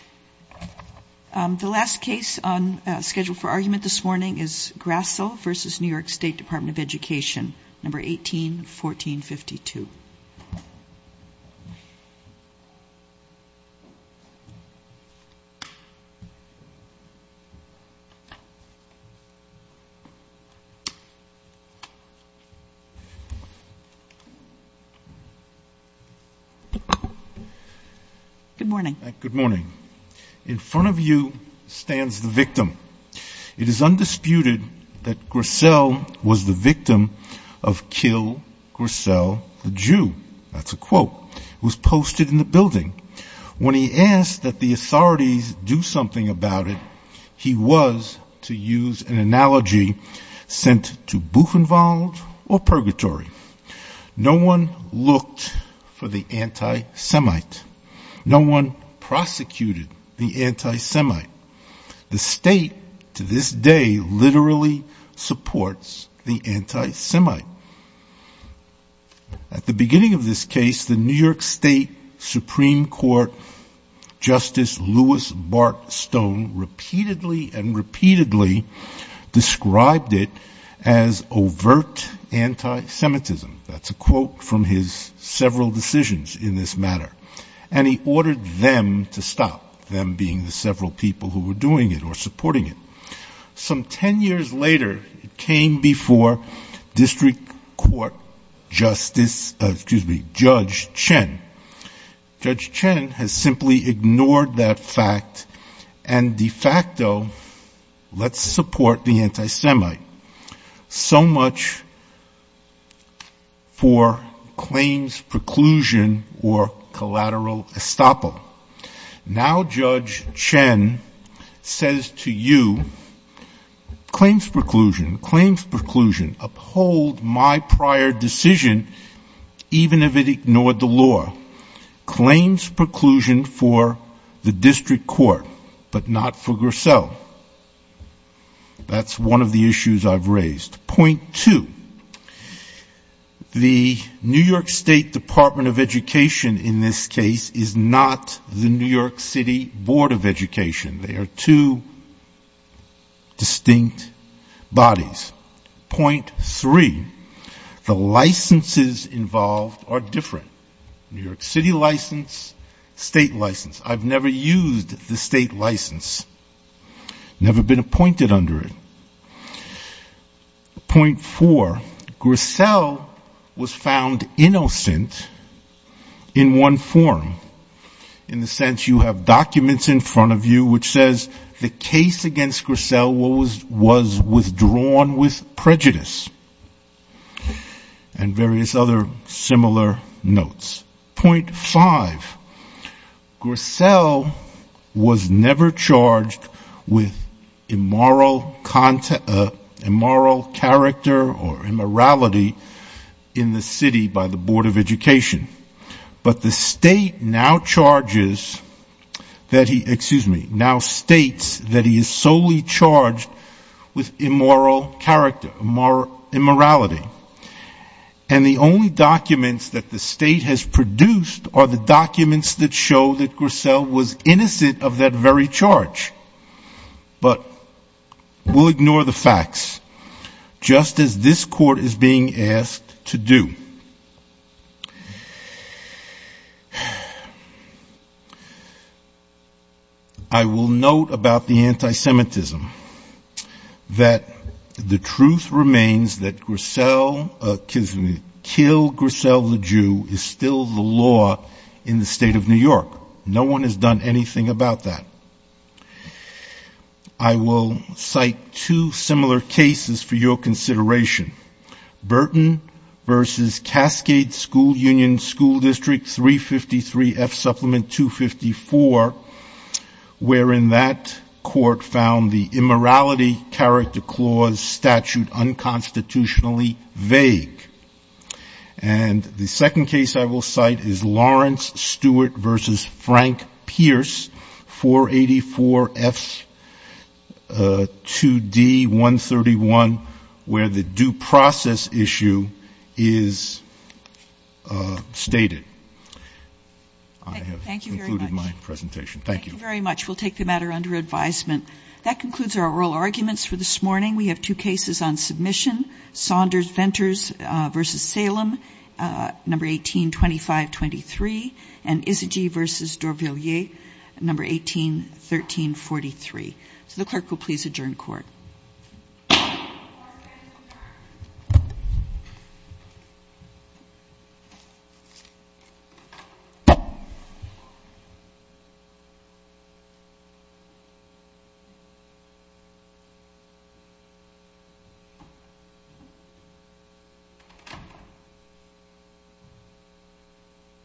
181452 In front of you stands the victim. It is undisputed that Grissel was the victim of Kill Grissel the Jew. It was posted in the building. When he asked that the authorities do something about it, he was, to use an analogy, sent to Bufenwald or Purgatory. No one looked for the anti-Semite. No one prosecuted the anti-Semite. The state, to this day, literally supports the anti-Semite. At the beginning of this case, the New York State Supreme Court Justice Louis Bart Stone repeatedly and repeatedly described it as overt anti-Semitism. That's a quote from his several decisions in this matter. And he ordered them to stop, them being the several people who were doing it or supporting it. Some ten years later, it came before District Court Justice, excuse me, Judge Chen. Judge Chen has simply ignored that fact and de facto lets support the anti-Semite. So much for claims preclusion or collateral estoppel. Now Judge Chen says to you, claims preclusion, claims preclusion, uphold my prior decision, even if it ignored the law. Claims preclusion for the District Court, but not for Grassell. That's one of the issues I've raised. Point two, the New York State Department of Education in this case is not the New York City Board of Education. They are two distinct bodies. Point three, the licenses involved are different. New York City license, state license. I've never used the state license. Never been appointed under it. Point four, Grassell was found innocent in one form. In the sense you have documents in front of you which says the case against Grassell was withdrawn with prejudice and various other similar notes. Point five, Grassell was never charged with immoral character or immorality in the city by the Board of Education. But the state now charges, excuse me, now states that he is solely charged with immoral character, immorality. And the only documents that the state has produced are the documents that show that Grassell was innocent of that very charge. But we'll ignore the facts. Just as this court is being asked to do. I will note about the anti-Semitism that the truth remains that Grassell, excuse me, kill Grassell the Jew is still the law in the state of New York. No one has done anything about that. I will cite two similar cases for your consideration. Burton versus Cascade School Union School District 353 F Supplement 254, wherein that court found the immorality character clause statute unconstitutionally vague. And the second case I will cite is Lawrence Stewart versus Frank Pierce 484 F 2D 131, where the due process issue is stated. I have concluded my presentation. Thank you very much. We'll take the matter under advisement. That concludes our oral arguments for this morning. We have two cases on submission. Saunders-Venters versus Salem number 1825-23 and Isagy versus Dorvillier number 1813-43. So the clerk will please adjourn court.